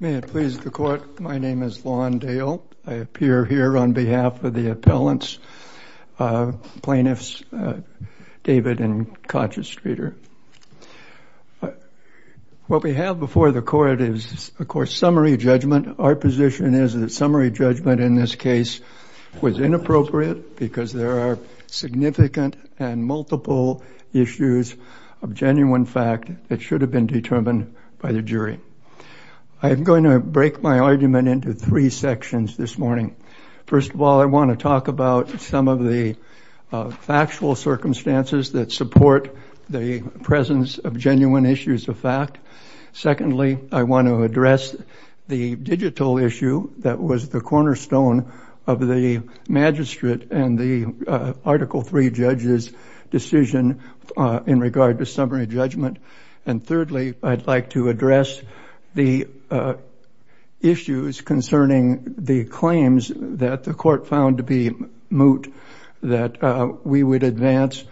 May it please the Court, my name is Lon Dale. I appear here on behalf of the appellants, plaintiffs, David and Conscious Streeter. What we have before the Court is, of course, summary judgment. Our position is that summary judgment in this case was inappropriate because there are significant and multiple issues of genuine fact that should have been determined by the jury. I'm going to break my argument into three sections this morning. First of all, I want to talk about some of the factual circumstances that support the presence of genuine issues of fact. Secondly, I want to address the digital issue that was the cornerstone of the magistrate and the Article 3 judges' decision in regard to summary judgment. And thirdly, I'd like to address the issues concerning the claims that the Court found to be moot that we would advance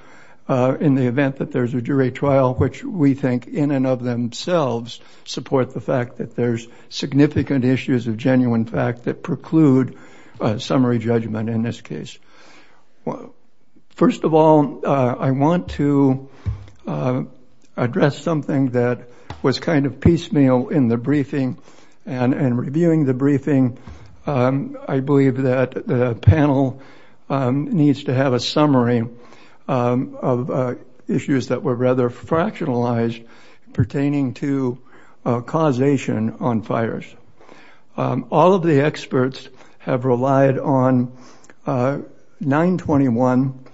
in the event that there's a jury trial, which we think in and of themselves support the fact that there's significant issues of genuine fact that preclude summary judgment in this case. First of all, I want to address something that was kind of piecemeal in the briefing and in reviewing the briefing. I believe that the panel needs to have a summary of issues that were rather fractionalized pertaining to causation on fires. All of the experts have relied on 921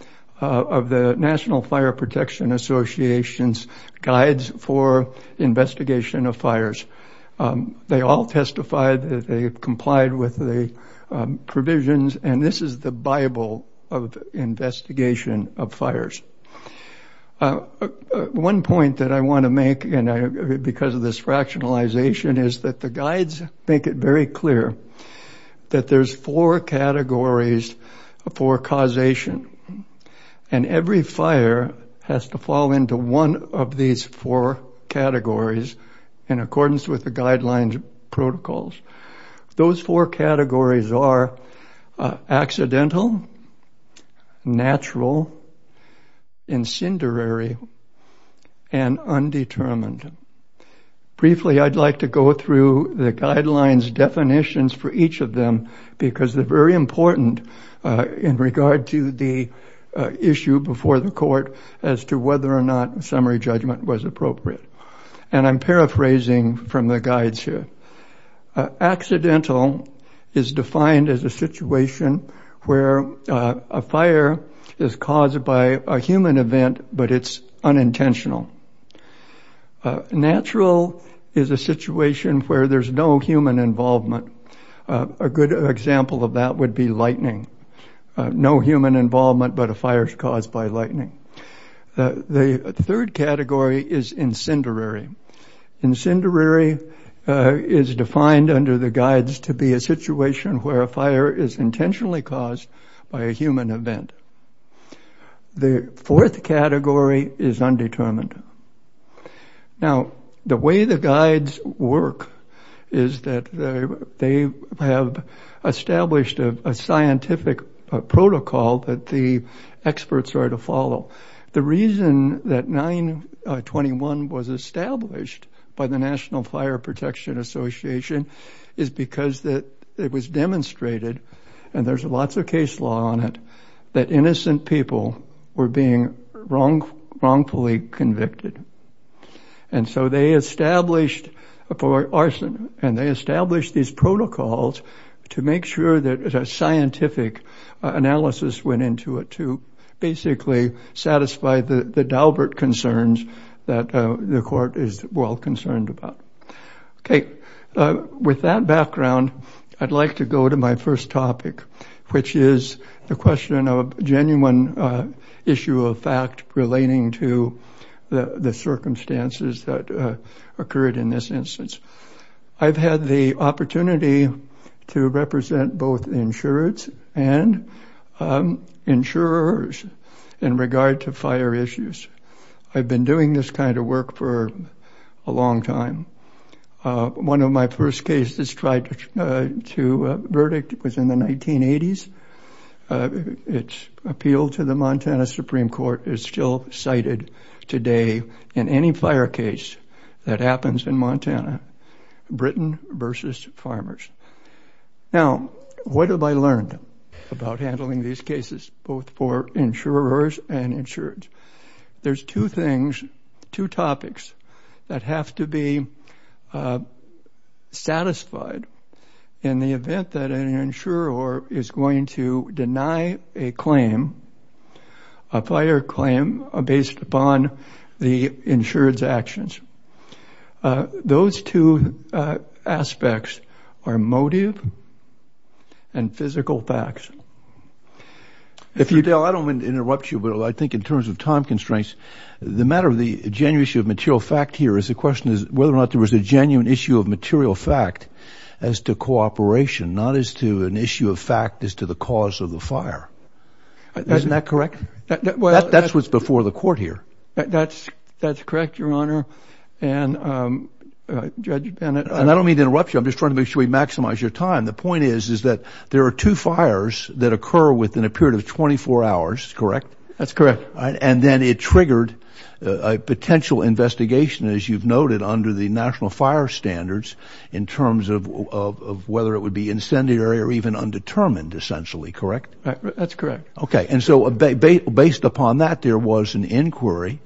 of the National Fire Protection Association's guides for investigation of fires. They all testified that they complied with the provisions and this is the Bible of investigation of fires. One point that I want to make because of this fractionalization is that the guides make it very clear that there's four categories for causation and every fire has to fall into one of these four categories in accordance with the incendiary and undetermined. Briefly, I'd like to go through the guidelines definitions for each of them because they're very important in regard to the issue before the court as to whether or not a summary judgment was appropriate. And I'm paraphrasing from the guides here. Accidental is defined as a situation where a fire is caused by a human event but it's unintentional. Natural is a situation where there's no human involvement. A good example of that would be lightning. No human involvement but a fire is caused by lightning. The third category is incendiary. Incendiary is defined under the guides to be a intentionally caused by a human event. The fourth category is undetermined. Now the way the guides work is that they have established a scientific protocol that the experts are to follow. The reason that 921 was established by the and there's lots of case law on it, that innocent people were being wrongfully convicted. And so they established for arson and they established these protocols to make sure that as a scientific analysis went into it to basically satisfy the the Daubert concerns that the court is well concerned about. Okay, with that background I'd like to go to my first topic which is the question of genuine issue of fact relating to the circumstances that occurred in this instance. I've had the opportunity to represent both insureds and insurers in regard to fire issues. I've been doing this kind of work for a long time. One of my first cases tried to verdict was in the 1980s. Its appeal to the Montana Supreme Court is still cited today in any fire case that happens in Montana, Britain versus farmers. Now what have I learned about handling these cases both for insurers and insureds? There's two things, two topics that have to be satisfied in the event that an insurer is going to deny a claim, a fire claim based upon the insured's actions. Those two aspects are motive and physical facts. If you, Dale, I don't want to interrupt you but I think in terms of time constraints, the matter of the genuine issue of material fact here is the question is whether or not there was a genuine issue of material fact as to cooperation, not as to an issue of fact as to the cause of the fire. Isn't that correct? That's what's before the court here. That's correct, Your Honor. And I don't mean to interrupt you. I'm just trying to make sure we maximize your time. The point is is that there are two fires that occur within a period of 24 hours, correct? That's correct. And then it triggered a potential investigation as you've noted under the national fire standards in terms of whether it would be incendiary or even undetermined essentially, correct? That's correct. Okay, and so based upon that there was an inquiry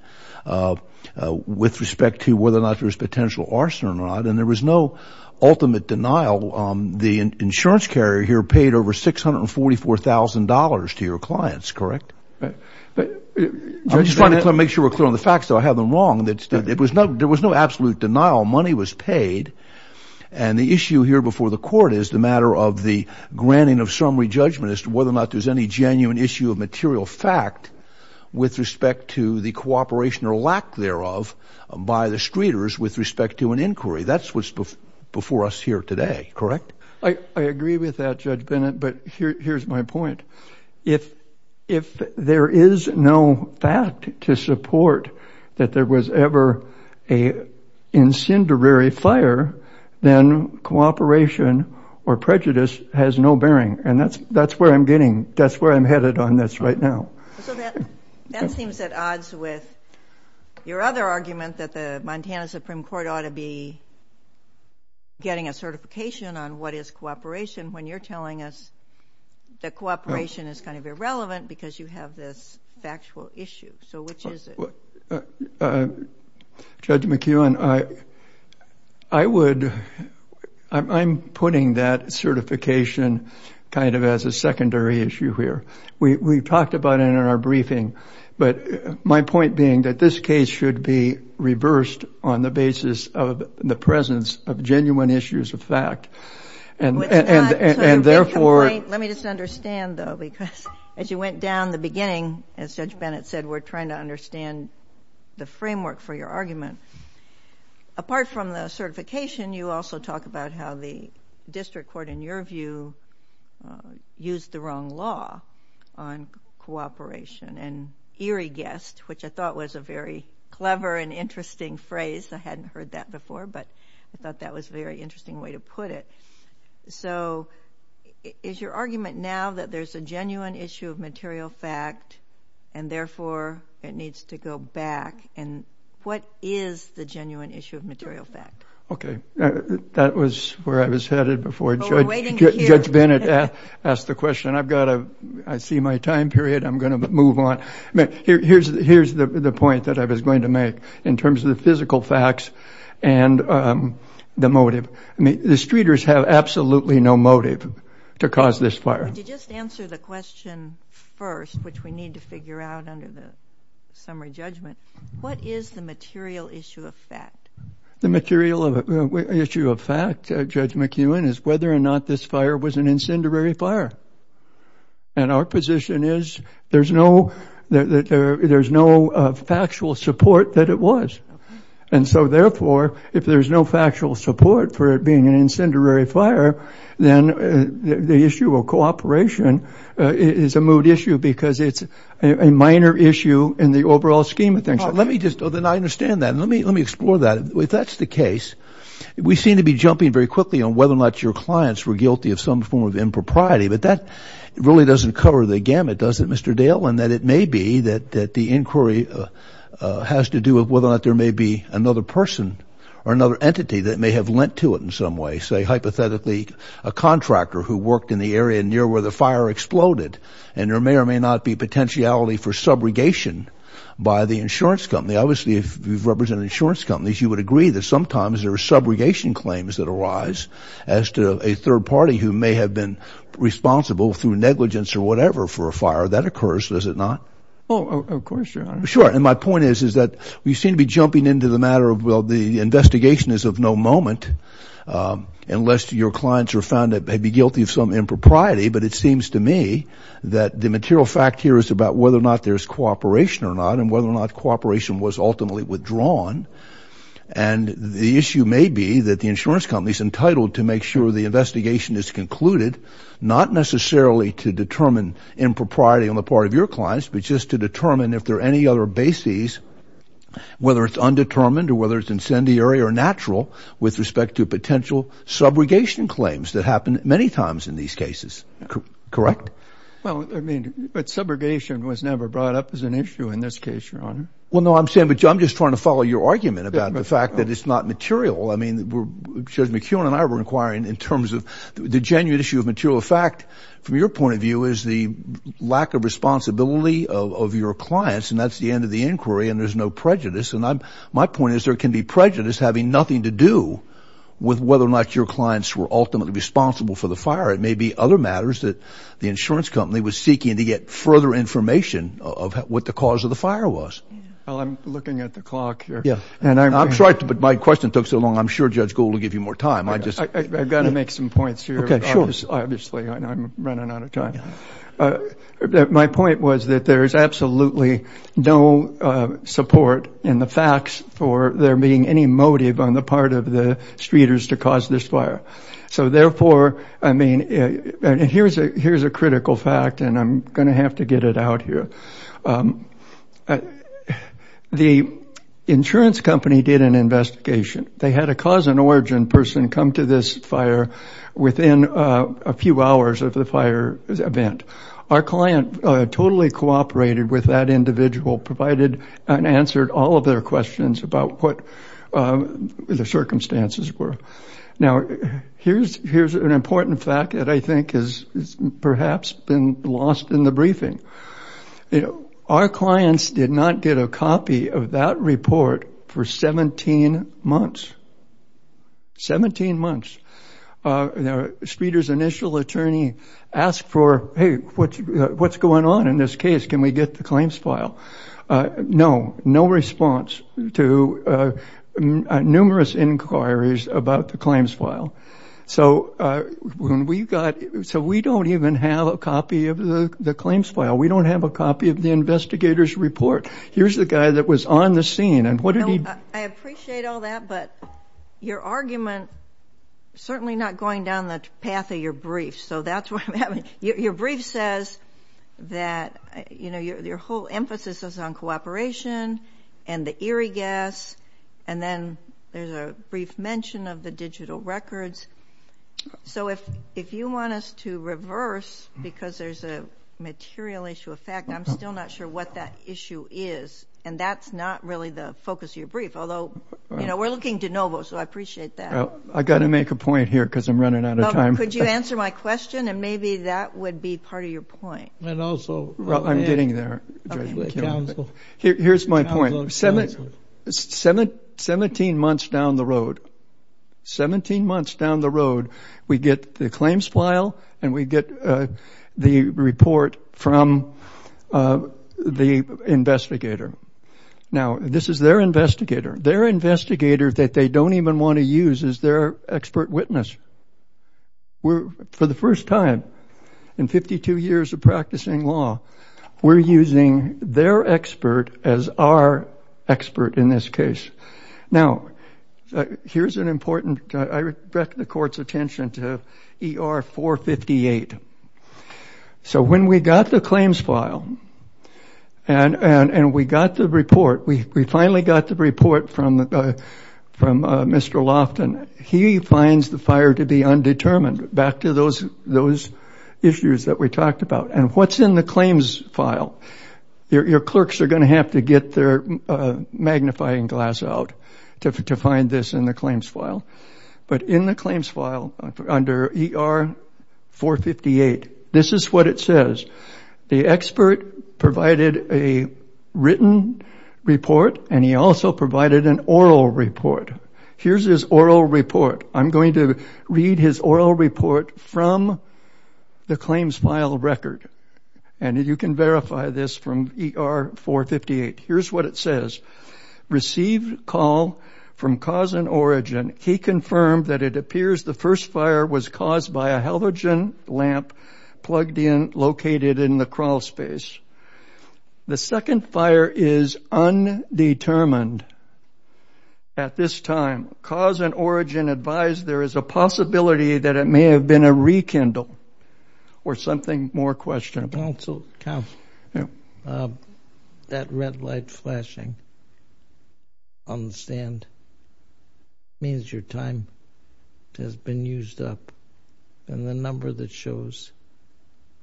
with respect to whether or not there was potential arson or not and there was no ultimate denial. The insurance carrier here paid over $644,000 to your clients, correct? I'm just trying to make sure we're clear on the facts so I have them wrong. There was no absolute denial. Money was paid and the issue here before the court is the matter of the granting of summary judgment as to whether or not there's any genuine issue of material fact with respect to the cooperation or lack thereof by the streeters with respect to an inquiry. That's what's before us here today, correct? I agree with that, Judge Bennett, but here's my point. If there is no fact to support that there was ever a incendiary fire, then cooperation or prejudice has no bearing and that's where I'm getting, that's where I'm headed on this right now. So that seems at odds with your other argument that the Montana Supreme Court ought to be getting a certification on what is cooperation when you're telling us that cooperation is kind of irrelevant because you have this factual issue. So which is it? Judge McEwen, I would, I'm putting that about it in our briefing, but my point being that this case should be reversed on the basis of the presence of genuine issues of fact and therefore... Let me just understand though because as you went down the beginning, as Judge Bennett said, we're trying to understand the framework for your argument. Apart from the certification, you also talk about how the district court, in your view, used the wrong law on cooperation and eerie guessed, which I thought was a very clever and interesting phrase. I hadn't heard that before, but I thought that was a very interesting way to put it. So is your argument now that there's a genuine issue of material fact and therefore it needs to go back and what is the genuine issue of material fact? Okay, that was where I was headed before Judge Bennett asked the question. I've got a, I see my time period, I'm going to move on. Here's the point that I was going to make in terms of the physical facts and the motive. I mean, the streeters have absolutely no motive to cause this fire. Just answer the question first, which we need to figure out under the summary judgment. What is the material issue of fact? The material issue of fact, Judge McEwen, is whether or not this fire was an incendiary fire. And our position is there's no, there's no factual support that it was. And so therefore, if there's no factual support for it being an incendiary fire, then the issue of cooperation is a moot issue because it's a minor issue in the overall scheme of things. Let me just, then I understand that. Let me, let me quickly on whether or not your clients were guilty of some form of impropriety. But that really doesn't cover the gamut, does it, Mr. Dale? And that it may be that the inquiry has to do with whether or not there may be another person or another entity that may have lent to it in some way, say, hypothetically, a contractor who worked in the area near where the fire exploded. And there may or may not be potentiality for subrogation by the insurance company. Obviously, if you've represented insurance companies, you would agree that sometimes there are subrogation claims that arise as to a third party who may have been responsible through negligence or whatever for a fire that occurs, does it not? Oh, of course, Your Honor. Sure. And my point is, is that we seem to be jumping into the matter of, well, the investigation is of no moment unless your clients are found to be guilty of some impropriety. But it seems to me that the material fact here is about whether or not there's cooperation or not and whether or not cooperation was ultimately withdrawn. And the issue may be that the insurance company's entitled to make sure the investigation is concluded, not necessarily to determine impropriety on the part of your clients, but just to determine if there are any other bases, whether it's undetermined or whether it's incendiary or natural, with respect to potential subrogation claims that happen many times in these cases. Correct? Well, I mean, but subrogation was never brought up as an issue in this case, Your Honor. Well, no, I'm saying, but I'm just trying to follow your argument about the fact that it's not material. I mean, Judge McKeown and I were inquiring in terms of the genuine issue of material fact. From your point of view, is the lack of responsibility of your clients, and that's the end of the inquiry, and there's no prejudice. And my point is, there can be prejudice having nothing to do with whether or not your clients were ultimately responsible for the fire. It may be other matters that the insurance company was seeking to get further information of what the cause of the fire was. Well, I'm looking at the clock here. Yeah, and I'm sorry, but my question took so long, I'm sure Judge Gould will give you more time. I just, I've got to make some points here. Okay, sure. Obviously, I'm running out of time. My point was that there is absolutely no support in the facts for there being any motive on the part of the streeters to cause this fire. So therefore, I mean, here's a critical fact, and I'm going to have to get it out here. The insurance company did an investigation. They had a cause and origin person come to this fire within a few hours of the fire event. Our client totally cooperated with that individual, provided and answered all of their questions about what the I think has perhaps been lost in the briefing. You know, our clients did not get a copy of that report for 17 months. 17 months. The streeters initial attorney asked for, hey, what's going on in this case? Can we get the claims file? No, no So we don't even have a copy of the claims file. We don't have a copy of the investigator's report. Here's the guy that was on the scene, and what did he... I appreciate all that, but your argument, certainly not going down the path of your brief, so that's what I mean. Your brief says that, you know, your whole emphasis is on cooperation and the Erie gas, and then there's a brief mention of the digital records. So if you want us to reverse, because there's a material issue of fact, I'm still not sure what that issue is, and that's not really the focus of your brief. Although, you know, we're looking to Novo, so I appreciate that. I got to make a point here, because I'm running out of time. Could you answer my question, and maybe that would be part of your point. And also... I'm getting there. Here's my point. 17 months down the road, 17 months down the road, we get the claims file, and we get the report from the investigator. Now, this is their investigator. Their investigator, that they don't even want to use, is their expert witness. We're, for the first time in 52 years of practicing law, we're using their expert as our expert in this case. Now, here's an important... I respect the court's attention to ER 458. So when we got the claims file, and we got the report, we finally got the report from Mr. Lofton. He finds the fire to be undetermined, back to those issues that we talked about. And what's in the magnifying glass out to find this in the claims file. But in the claims file under ER 458, this is what it says. The expert provided a written report, and he also provided an oral report. Here's his oral report. I'm going to read his oral report from the claims file record, and you can verify this from ER 458. Here's what it says. Received call from cause and origin. He confirmed that it appears the first fire was caused by a halogen lamp plugged in, located in the crawl space. The second fire is undetermined. At this time, cause and origin advised there is a possibility that it may have been a rekindle, or something more Counselor, that red light flashing on the stand means your time has been used up. And the number that shows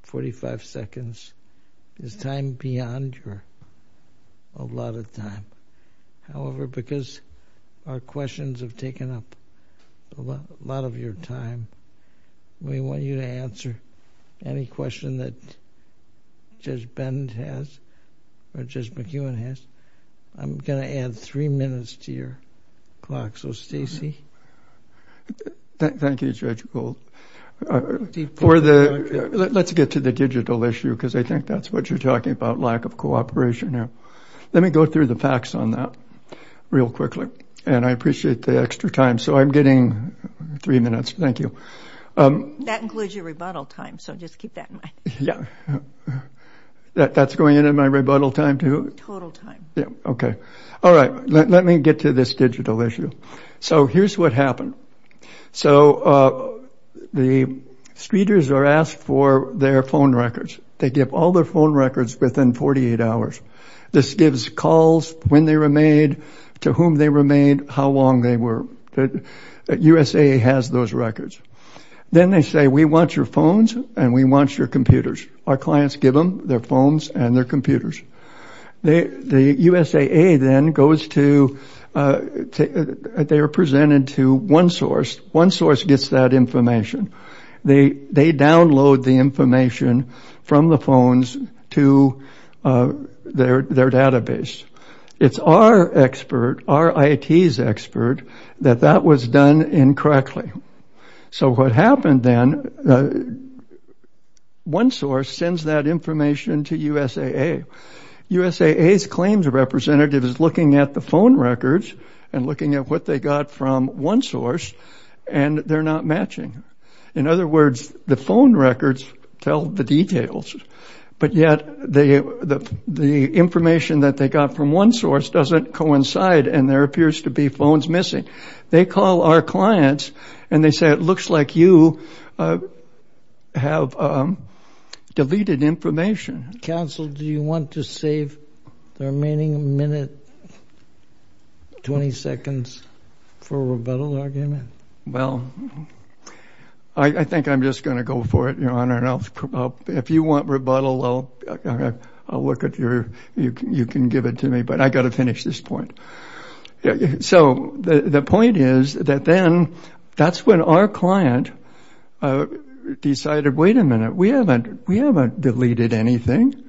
45 seconds is time beyond your, a lot of time. However, because our questions have taken up a lot of your time, we want you to answer any question that Judge Bend has, or Judge McEwen has. I'm going to add three minutes to your clock. So Stacy. Thank you, Judge Gould. For the, let's get to the digital issue, because I think that's what you're talking about, lack of cooperation. Let me go through the facts on that real quickly, and I includes your rebuttal time, so just keep that in mind. Yeah, that's going into my rebuttal time too? Total time. Yeah, okay. All right, let me get to this digital issue. So here's what happened. So the streeters are asked for their phone records. They give all their phone records within 48 hours. This gives calls when they were made, to whom they were made, how long they were, that USA has those records. Then they say, we want your phones, and we want your computers. Our clients give them their phones and their computers. The USAA then goes to, they are presented to one source. One source gets that information. They download the information from the phones to their database. It's our expert, our IT's expert, that that was done incorrectly. So what happened then, one source sends that information to USAA. USAA's claims representative is looking at the phone records, and looking at what they got from one source, and they're not matching. In other words, the phone records tell the details, but yet they, the information that they got from one source doesn't coincide, and there appears to be phones missing. They call our clients, and they say, it looks like you have deleted information. Counsel, do you want to save the remaining minute, 20 seconds, for a rebuttal argument? Well, I think I'm just going to go for it, Your Honor, and I'll, if you want rebuttal, I'll look at your, you can give it to me, but I got to finish this point. So the point is that then, that's when our client decided, wait a minute, we haven't, we haven't deleted anything,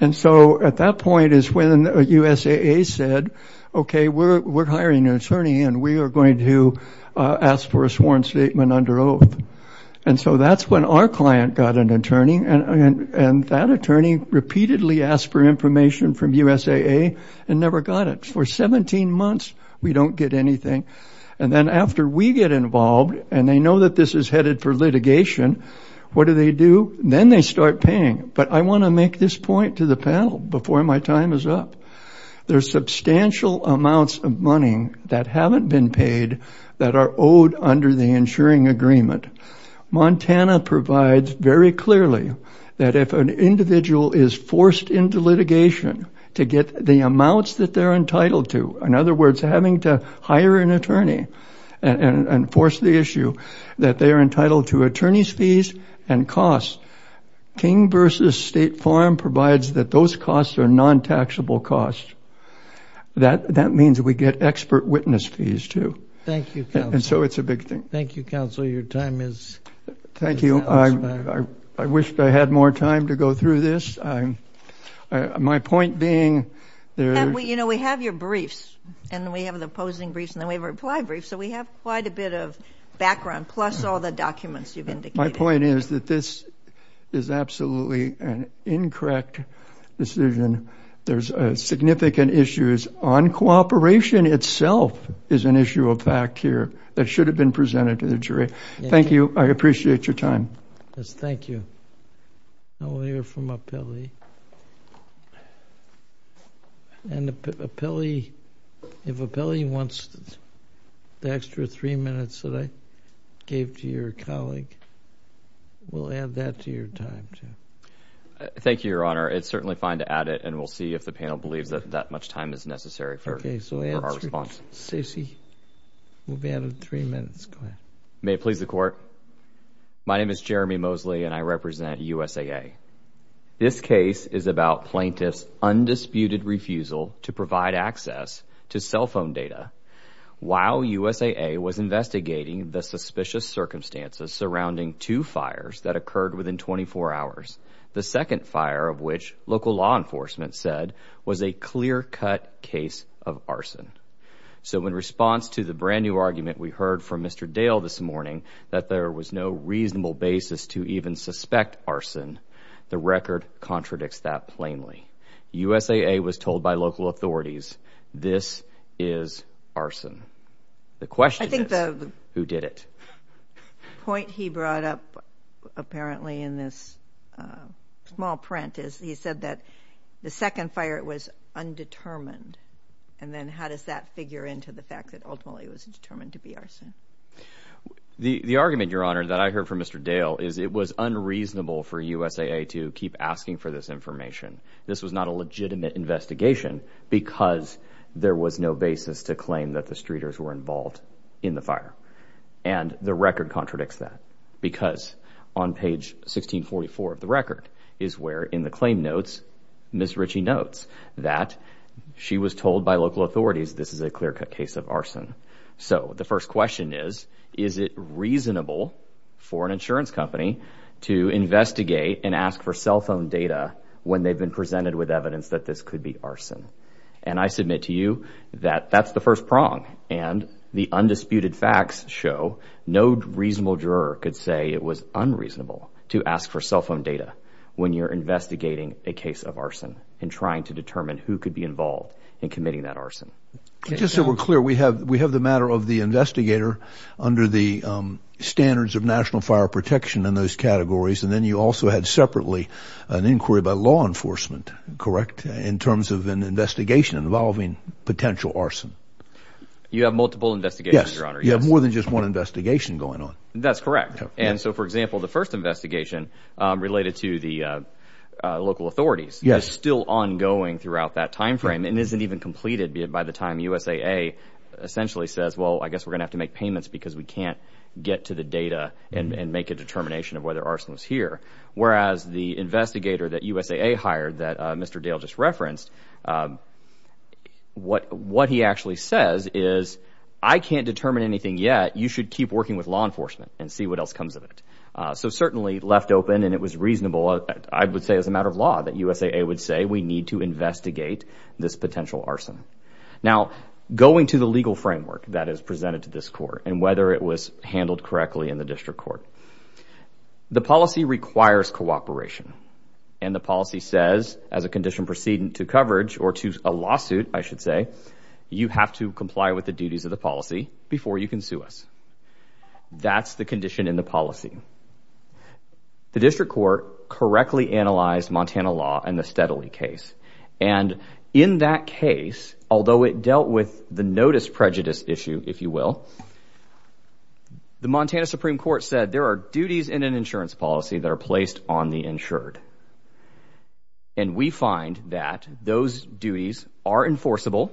and so at that point is when USAA said, okay, we're hiring an attorney, and we are going to ask for a sworn statement under oath, and so that's when our client got an attorney, repeatedly asked for information from USAA, and never got it. For 17 months, we don't get anything, and then after we get involved, and they know that this is headed for litigation, what do they do? Then they start paying, but I want to make this point to the panel before my time is up. There's substantial amounts of money that haven't been paid that are owed under the insuring agreement. Montana provides very clearly that if an individual is forced into litigation to get the amounts that they're entitled to, in other words, having to hire an attorney and enforce the issue, that they are entitled to attorney's fees and costs. King v. State Farm provides that those costs are non-taxable costs. That means we get expert witness fees, too, and so it's a big thing. Thank you, counsel. Your time is up. Thank you. I wish I had more time to go through this. My point being... You know, we have your briefs, and we have the opposing briefs, and then we have our reply briefs, so we have quite a bit of background, plus all the documents you've indicated. My point is that this is absolutely an incorrect decision. There's significant issues on cooperation itself is an issue of fact here that should have been presented to the jury. Thank you. I appreciate your time. Yes, thank you. Now we'll hear from Apelli. And if Apelli wants the extra three minutes that I gave to your colleague, we'll add that to your time, too. Thank you, Your Honor. It's certainly fine to add it, and we'll see if the panel believes that that much time is necessary for our response. May it please the Court? My name is Jeremy Mosley, and I represent USAA. This case is about plaintiffs' undisputed refusal to provide access to cell phone data. While USAA was investigating the suspicious circumstances surrounding two fires that occurred within 24 hours, the second fire of which, local law enforcement said, was a clear-cut case of arson. So in response to the brand-new argument we heard from Mr. Dale this morning, that there was no reasonable basis to even suspect arson, the record contradicts that plainly. USAA was told by local authorities, this is arson. The question is, who did it? The point he brought up, apparently in this small print, is he said that the second fire was undetermined, and then how does that figure into the fact that ultimately it was determined to be arson? The argument, Your Honor, that I heard from Mr. Dale is it was unreasonable for USAA to keep asking for this information. This was not a legitimate investigation because there was no basis to claim that the streeters were involved in the fire. And the record contradicts that because on page 1644 of the record is where in the claim notes, Ms. Ritchie notes that she was told by local authorities this is a clear-cut case of arson. So the first question is, is it reasonable for an insurance company to investigate and ask for cell phone data when they've been presented with arson? That's the first prong, and the undisputed facts show no reasonable juror could say it was unreasonable to ask for cell phone data when you're investigating a case of arson and trying to determine who could be involved in committing that arson. Just so we're clear, we have we have the matter of the investigator under the standards of National Fire Protection in those categories, and then you also had separately an inquiry by law enforcement, correct, in terms of an investigation involving potential arson. You have multiple investigations? Yes, you have more than just one investigation going on. That's correct, and so for example the first investigation related to the local authorities, yes, is still ongoing throughout that time frame and isn't even completed by the time USAA essentially says, well I guess we're gonna have to make payments because we can't get to the data and make a determination of whether arson was here. Whereas the investigator that USAA hired that Mr. Dale just referenced, what he actually says is I can't determine anything yet, you should keep working with law enforcement and see what else comes of it. So certainly left open and it was reasonable, I would say as a matter of law, that USAA would say we need to investigate this potential arson. Now going to the legal framework that is presented to this court and whether it was handled correctly in the district court. The policy requires cooperation and the policy says as a condition precedent to coverage or to a lawsuit, I should say, you have to comply with the duties of the policy before you can sue us. That's the condition in the policy. The district court correctly analyzed Montana law and the Steadley case and in that case, although it dealt with the notice prejudice issue, if you will, the there are duties in an insurance policy that are placed on the insured and we find that those duties are enforceable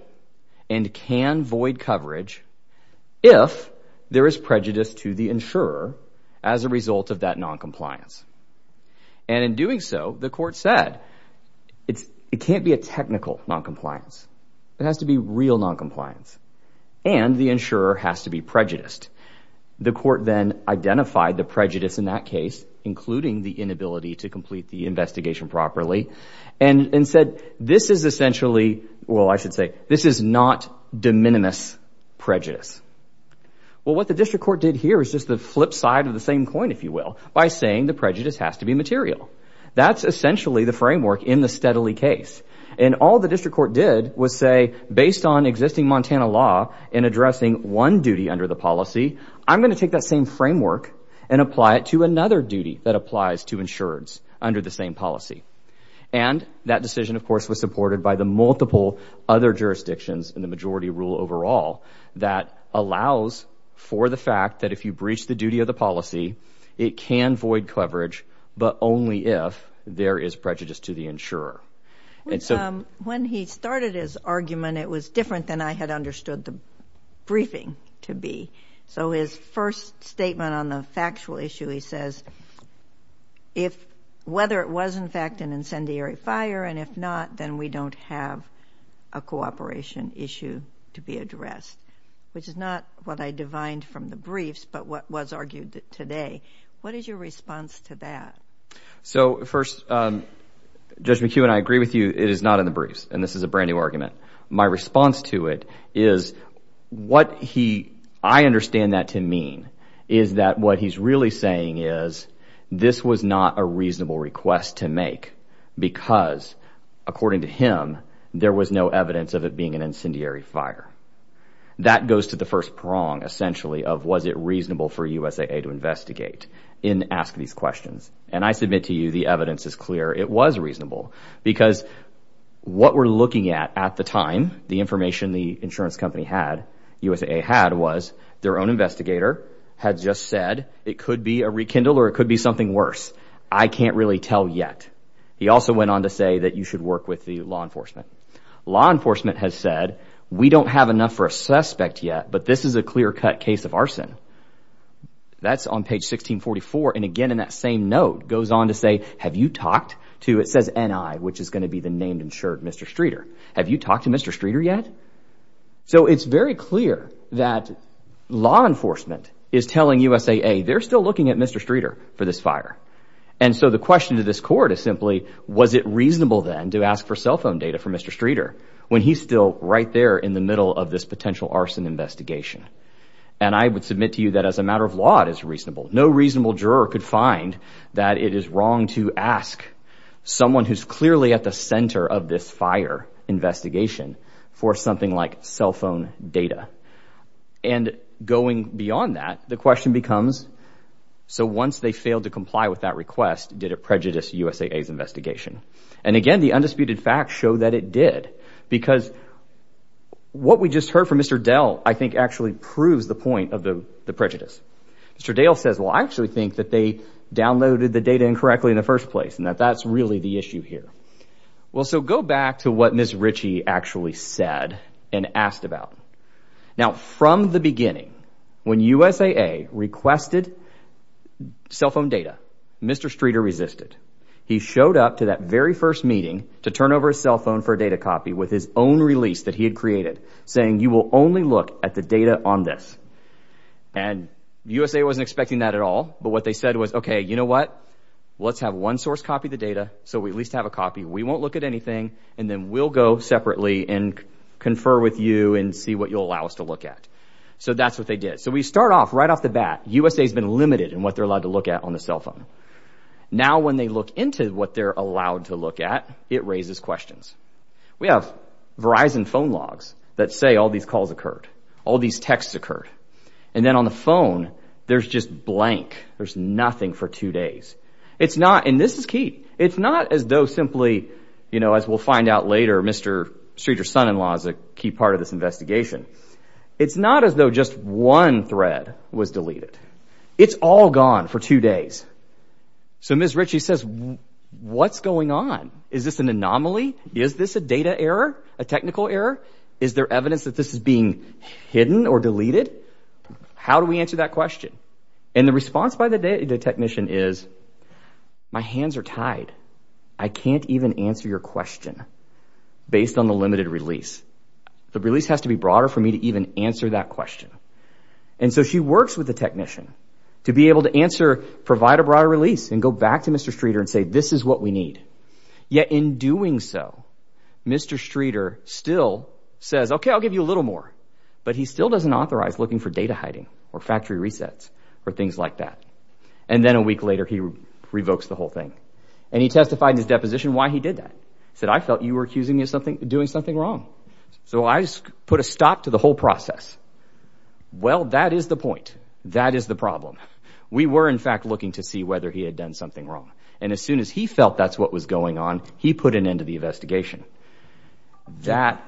and can void coverage if there is prejudice to the insurer as a result of that non-compliance. And in doing so, the court said it can't be a technical non-compliance, it has to be real non-compliance and the insurer has to be prejudiced. The court then identified the prejudice in that case, including the inability to complete the investigation properly and said this is essentially, well I should say, this is not de minimis prejudice. Well what the district court did here is just the flip side of the same coin, if you will, by saying the prejudice has to be material. That's essentially the framework in the Steadley case and all the district court did was say based on existing Montana law in addressing one duty under the policy, I'm going to take that same framework and apply it to another duty that applies to insureds under the same policy. And that decision of course was supported by the multiple other jurisdictions in the majority rule overall that allows for the fact that if you breach the duty of the policy, it can but only if there is prejudice to the insurer. When he started his argument, it was different than I had understood the briefing to be. So his first statement on the factual issue, he says, if whether it was in fact an incendiary fire and if not, then we don't have a cooperation issue to be addressed, which is not what I divined from the briefs but what was argued today. What is your response to that? So first, Judge McEwen, I agree with you. It is not in the briefs and this is a brand new argument. My response to it is what he, I understand that to mean, is that what he's really saying is this was not a reasonable request to make because according to him, there was no evidence of it being an incendiary fire. That goes to the first prong essentially of was it reasonable for USAA to investigate in asking these questions and I submit to you the evidence is clear. It was reasonable because what we're looking at at the time, the information the insurance company had, USAA had, was their own investigator had just said it could be a rekindle or it could be something worse. I can't really tell yet. He also went on to say that you should work with the law enforcement. Law enforcement has said we don't have enough for a suspect yet but this is a clear-cut case of arson. That's on page 1644 and again in that same note goes on to say have you talked to, it says NI which is going to be the named insured Mr. Streeter, have you talked to Mr. Streeter yet? So it's very clear that law enforcement is telling USAA they're still looking at Mr. Streeter for this fire and so the question to this court is simply was it reasonable then to ask for cell phone data for Mr. Streeter when he's still right there in the middle of this potential arson investigation and I would submit to you that as a matter of law it is reasonable. No reasonable juror could find that it is wrong to ask someone who's clearly at the center of this fire investigation for something like cell phone data and going beyond that the question becomes so once they failed to comply with that request did it prejudice USAA's investigation and again the undisputed facts show that it did because what we just heard from Mr. Dell I think actually proves the point of the prejudice. Mr. Dale says well I actually think that they downloaded the data incorrectly in the first place and that that's really the issue here. Well so go back to what Miss Ritchie actually said and asked about. Now from the beginning when USAA requested cell phone data Mr. Streeter resisted. He showed up to that very first meeting to turn over a cell phone for a data copy with his own release that he had created saying you will only look at the data on this and USA wasn't expecting that at all but what they said was okay you know what let's have one source copy the data so we at least have a copy we won't look at anything and then we'll go separately and confer with you and see what you'll allow us to look at. So that's what they did. So we start off right off the bat USA has been limited in what they're allowed to look at on the cell phone. Now when they look into what they're allowed to look at it raises questions. We have Verizon phone logs that say all these calls occurred all these texts occurred and then on the phone there's just blank there's nothing for two days. It's not and this is key it's not as though simply you know as we'll find out later Mr. Streeter's son-in-law is a key part of this investigation. It's not as though just one thread was deleted. It's all gone for two days. So Ms. Ritchie says what's going on? Is this an anomaly? Is this a data error? A technical error? Is there evidence that this is being hidden or deleted? How do we answer that question? And the response by the technician is my hands are tied. I can't even answer your question based on the limited release. The release has to be broader for me to even answer that question. And so she works with the technician to be able to answer provide a broader release and go back to Mr. Streeter and say this is what we need. Yet in doing so Mr. Streeter still says okay I'll give you a little more but he still doesn't authorize looking for data hiding or factory resets or things like that. And then a week later he revokes the whole thing and he testified in his deposition why he did that. Said I felt you were accusing me of something doing something wrong. So I put a stop to the whole process. Well that is the point. That is the problem. We were in fact looking to see whether he had done something wrong. And as soon as he felt that's what was going on he put an end to the investigation. That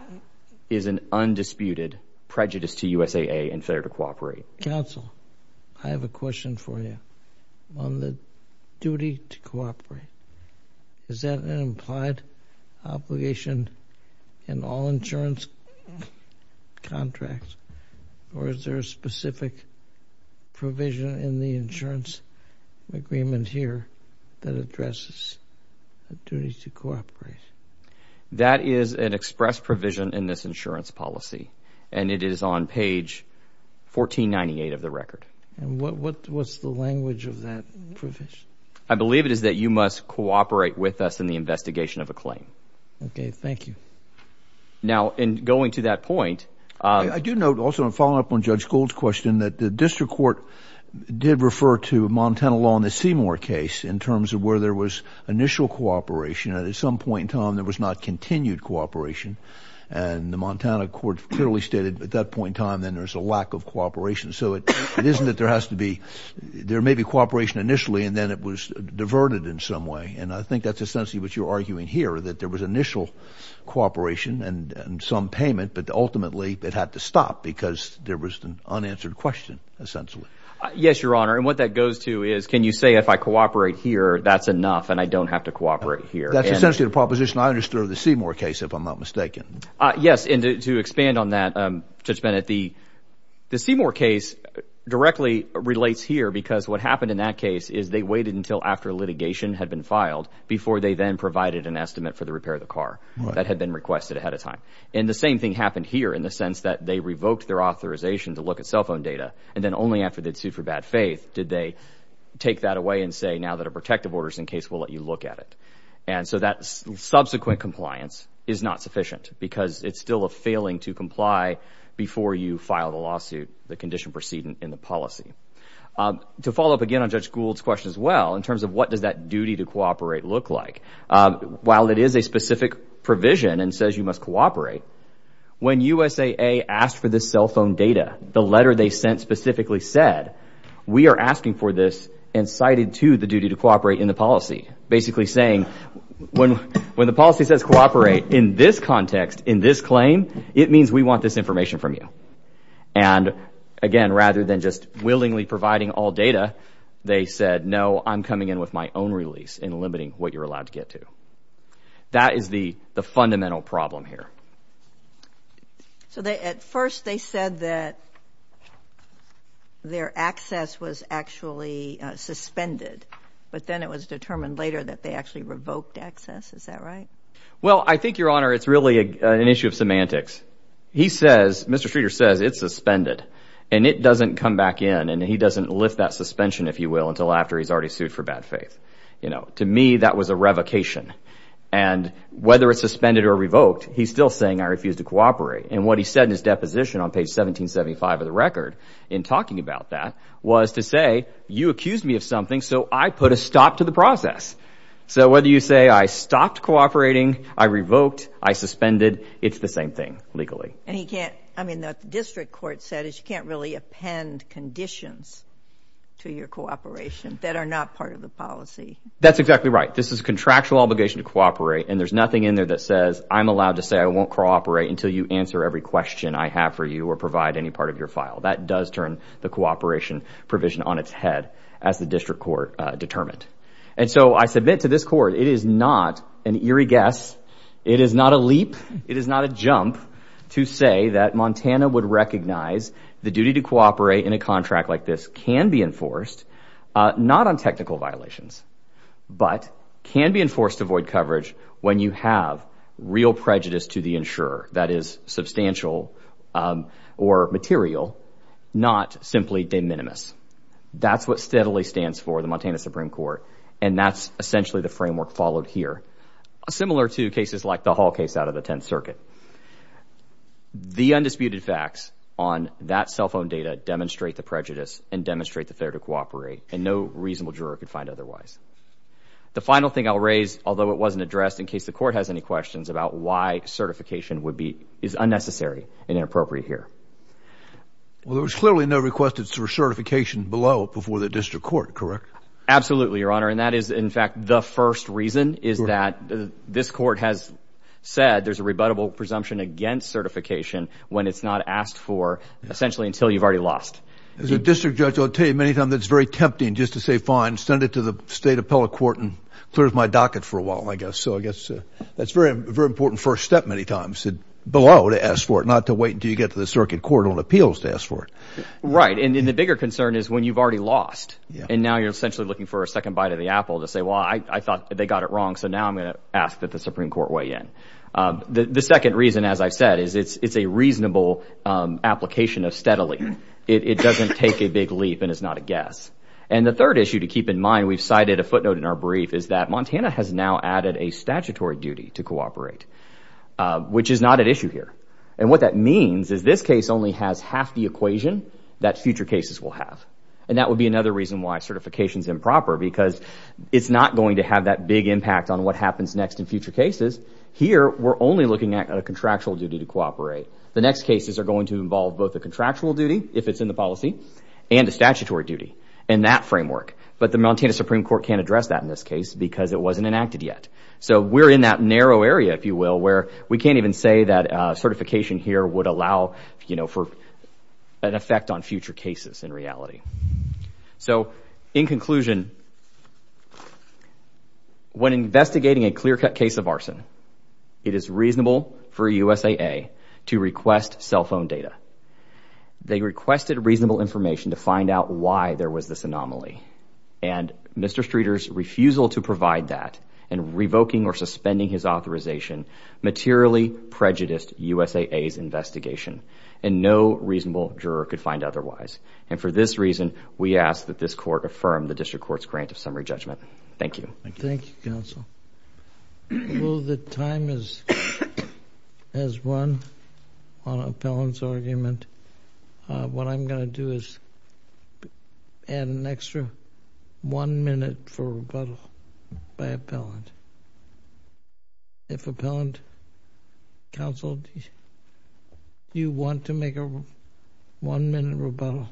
is an undisputed prejudice to USAA and fair to cooperate. Counsel I have a question for you on the duty to cooperate. Is that an implied obligation in all insurance contracts or is there a specific provision in the insurance agreement here that addresses a duty to cooperate? That is an express provision in this insurance policy and it is on page 1498 of the record. And what what's the language of that provision? I believe it Okay thank you. Now in going to that point I do note also a follow-up on Judge Gould's question that the district court did refer to Montana law in the Seymour case in terms of where there was initial cooperation and at some point in time there was not continued cooperation. And the Montana court clearly stated at that point in time then there's a lack of cooperation. So it isn't that there has to be there may be cooperation initially and then it was diverted in some way and I think that's essentially what you're arguing here that there was initial cooperation and some payment but ultimately it had to stop because there was an unanswered question essentially. Yes your honor and what that goes to is can you say if I cooperate here that's enough and I don't have to cooperate here. That's essentially the proposition I understood of the Seymour case if I'm not mistaken. Yes and to expand on that Judge Bennett the the Seymour case directly relates here because what happened in that case is they waited until after litigation had been filed before they then provided an estimate for the repair of the car that had been requested ahead of time. And the same thing happened here in the sense that they revoked their authorization to look at cell phone data and then only after they'd sued for bad faith did they take that away and say now that a protective orders in case we'll let you look at it. And so that's subsequent compliance is not sufficient because it's still a failing to comply before you file the lawsuit the condition proceeding in the terms of what does that duty to cooperate look like. While it is a specific provision and says you must cooperate when USAA asked for this cell phone data the letter they sent specifically said we are asking for this and cited to the duty to cooperate in the policy. Basically saying when when the policy says cooperate in this context in this claim it means we want this information from you. And again rather than just willingly providing all they said no I'm coming in with my own release in limiting what you're allowed to get to. That is the the fundamental problem here. So they at first they said that their access was actually suspended but then it was determined later that they actually revoked access is that right? Well I think your honor it's really an issue of semantics. He says Mr. Streeter says it's suspended and it doesn't lift that suspension if you will until after he's already sued for bad faith. You know to me that was a revocation and whether it's suspended or revoked he's still saying I refuse to cooperate and what he said in his deposition on page 1775 of the record in talking about that was to say you accused me of something so I put a stop to the process. So whether you say I stopped cooperating I revoked I suspended it's the same thing legally. And he can't I mean the district court said is you can't really append conditions to your cooperation that are not part of the policy. That's exactly right this is a contractual obligation to cooperate and there's nothing in there that says I'm allowed to say I won't cooperate until you answer every question I have for you or provide any part of your file. That does turn the cooperation provision on its head as the district court determined. And so I submit to this court it is not an eerie guess it is not a leap it is not a jump to say that Montana would recognize the duty to cooperate in a contract like this can be enforced not on technical violations but can be enforced to void coverage when you have real prejudice to the insurer that is substantial or material not simply de minimis. That's what steadily stands for the Montana Supreme Court and that's essentially the framework followed here. Similar to the undisputed facts on that cell phone data demonstrate the prejudice and demonstrate that they're to cooperate and no reasonable juror could find otherwise. The final thing I'll raise although it wasn't addressed in case the court has any questions about why certification would be is unnecessary and inappropriate here. Well there was clearly no requested for certification below before the district court correct? Absolutely your honor and that is in fact the first reason is that this court has said there's a rebuttable presumption against certification when it's not asked for essentially until you've already lost. As a district judge I'll tell you many times it's very tempting just to say fine send it to the state appellate court and clears my docket for a while I guess so I guess that's very very important first step many times said below to ask for it not to wait until you get to the circuit court on appeals to ask for it. Right and the bigger concern is when you've already lost and now you're essentially looking for a second bite of the apple to say well I thought they got it wrong so now I'm gonna ask that the Supreme Court weigh in. The second reason as I said is it's it's a reasonable application of steadily it doesn't take a big leap and it's not a guess and the third issue to keep in mind we've cited a footnote in our brief is that Montana has now added a statutory duty to cooperate which is not at issue here and what that means is this case only has half the equation that future cases will have and that would be another reason why certifications improper because it's not going to have that big impact on what happens next in future cases here we're only looking at a contractual duty to cooperate the next cases are going to involve both a contractual duty if it's in the policy and a statutory duty and that framework but the Montana Supreme Court can't address that in this case because it wasn't enacted yet so we're in that narrow area if you will where we can't even say that certification here would allow you know for an effect on when investigating a clear-cut case of arson it is reasonable for USAA to request cell phone data they requested reasonable information to find out why there was this anomaly and mr. Streeters refusal to provide that and revoking or suspending his authorization materially prejudiced USAA's investigation and no reasonable juror could find otherwise and for this reason we ask that this thank you counsel well the time is as one on appellant's argument what I'm going to do is add an extra one minute for rebuttal by appellant if appellant counsel you want to make a one-minute rebuttal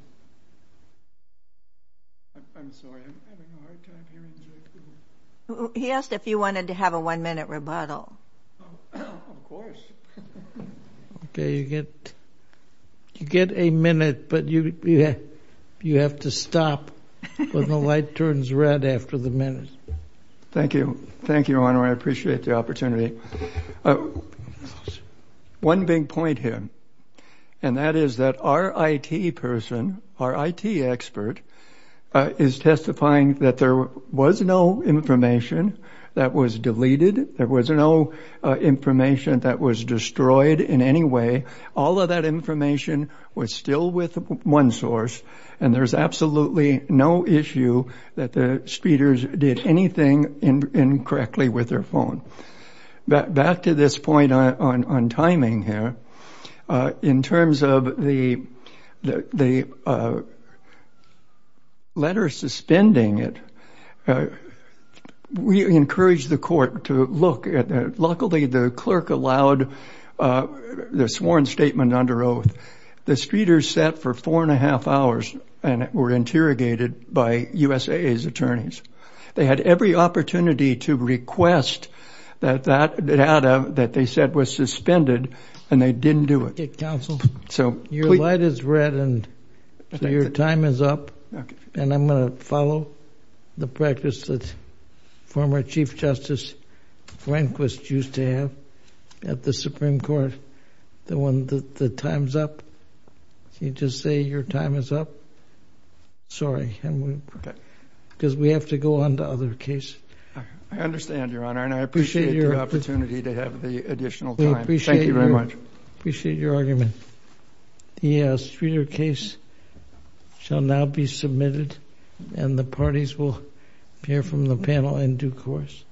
yes if you wanted to have a one-minute rebuttal okay you get you get a minute but you yeah you have to stop when the light turns red after the minute thank you thank you I appreciate the opportunity one big point here and that is that our IT person our IT expert is testifying that there was no information that was deleted there was no information that was destroyed in any way all of that information was still with one source and there's absolutely no issue that the speeders did anything incorrectly with their phone but back to this point on timing here in terms of the the letter suspending it we encourage the court to look at luckily the clerk allowed the sworn statement under oath the streeters set for four and a half hours and were interrogated by USAA's attorneys they had every opportunity to request that that data that they said was suspended and they didn't do it council so your light is red and your time is up and I'm gonna follow the practice that former Chief Justice Rehnquist used to have at the Supreme Court the one that the time's up you just say your time is up sorry and we because we have to go on the other case I understand your honor and I appreciate your opportunity to Streeter case shall now be submitted and the parties will hear from the panel in due course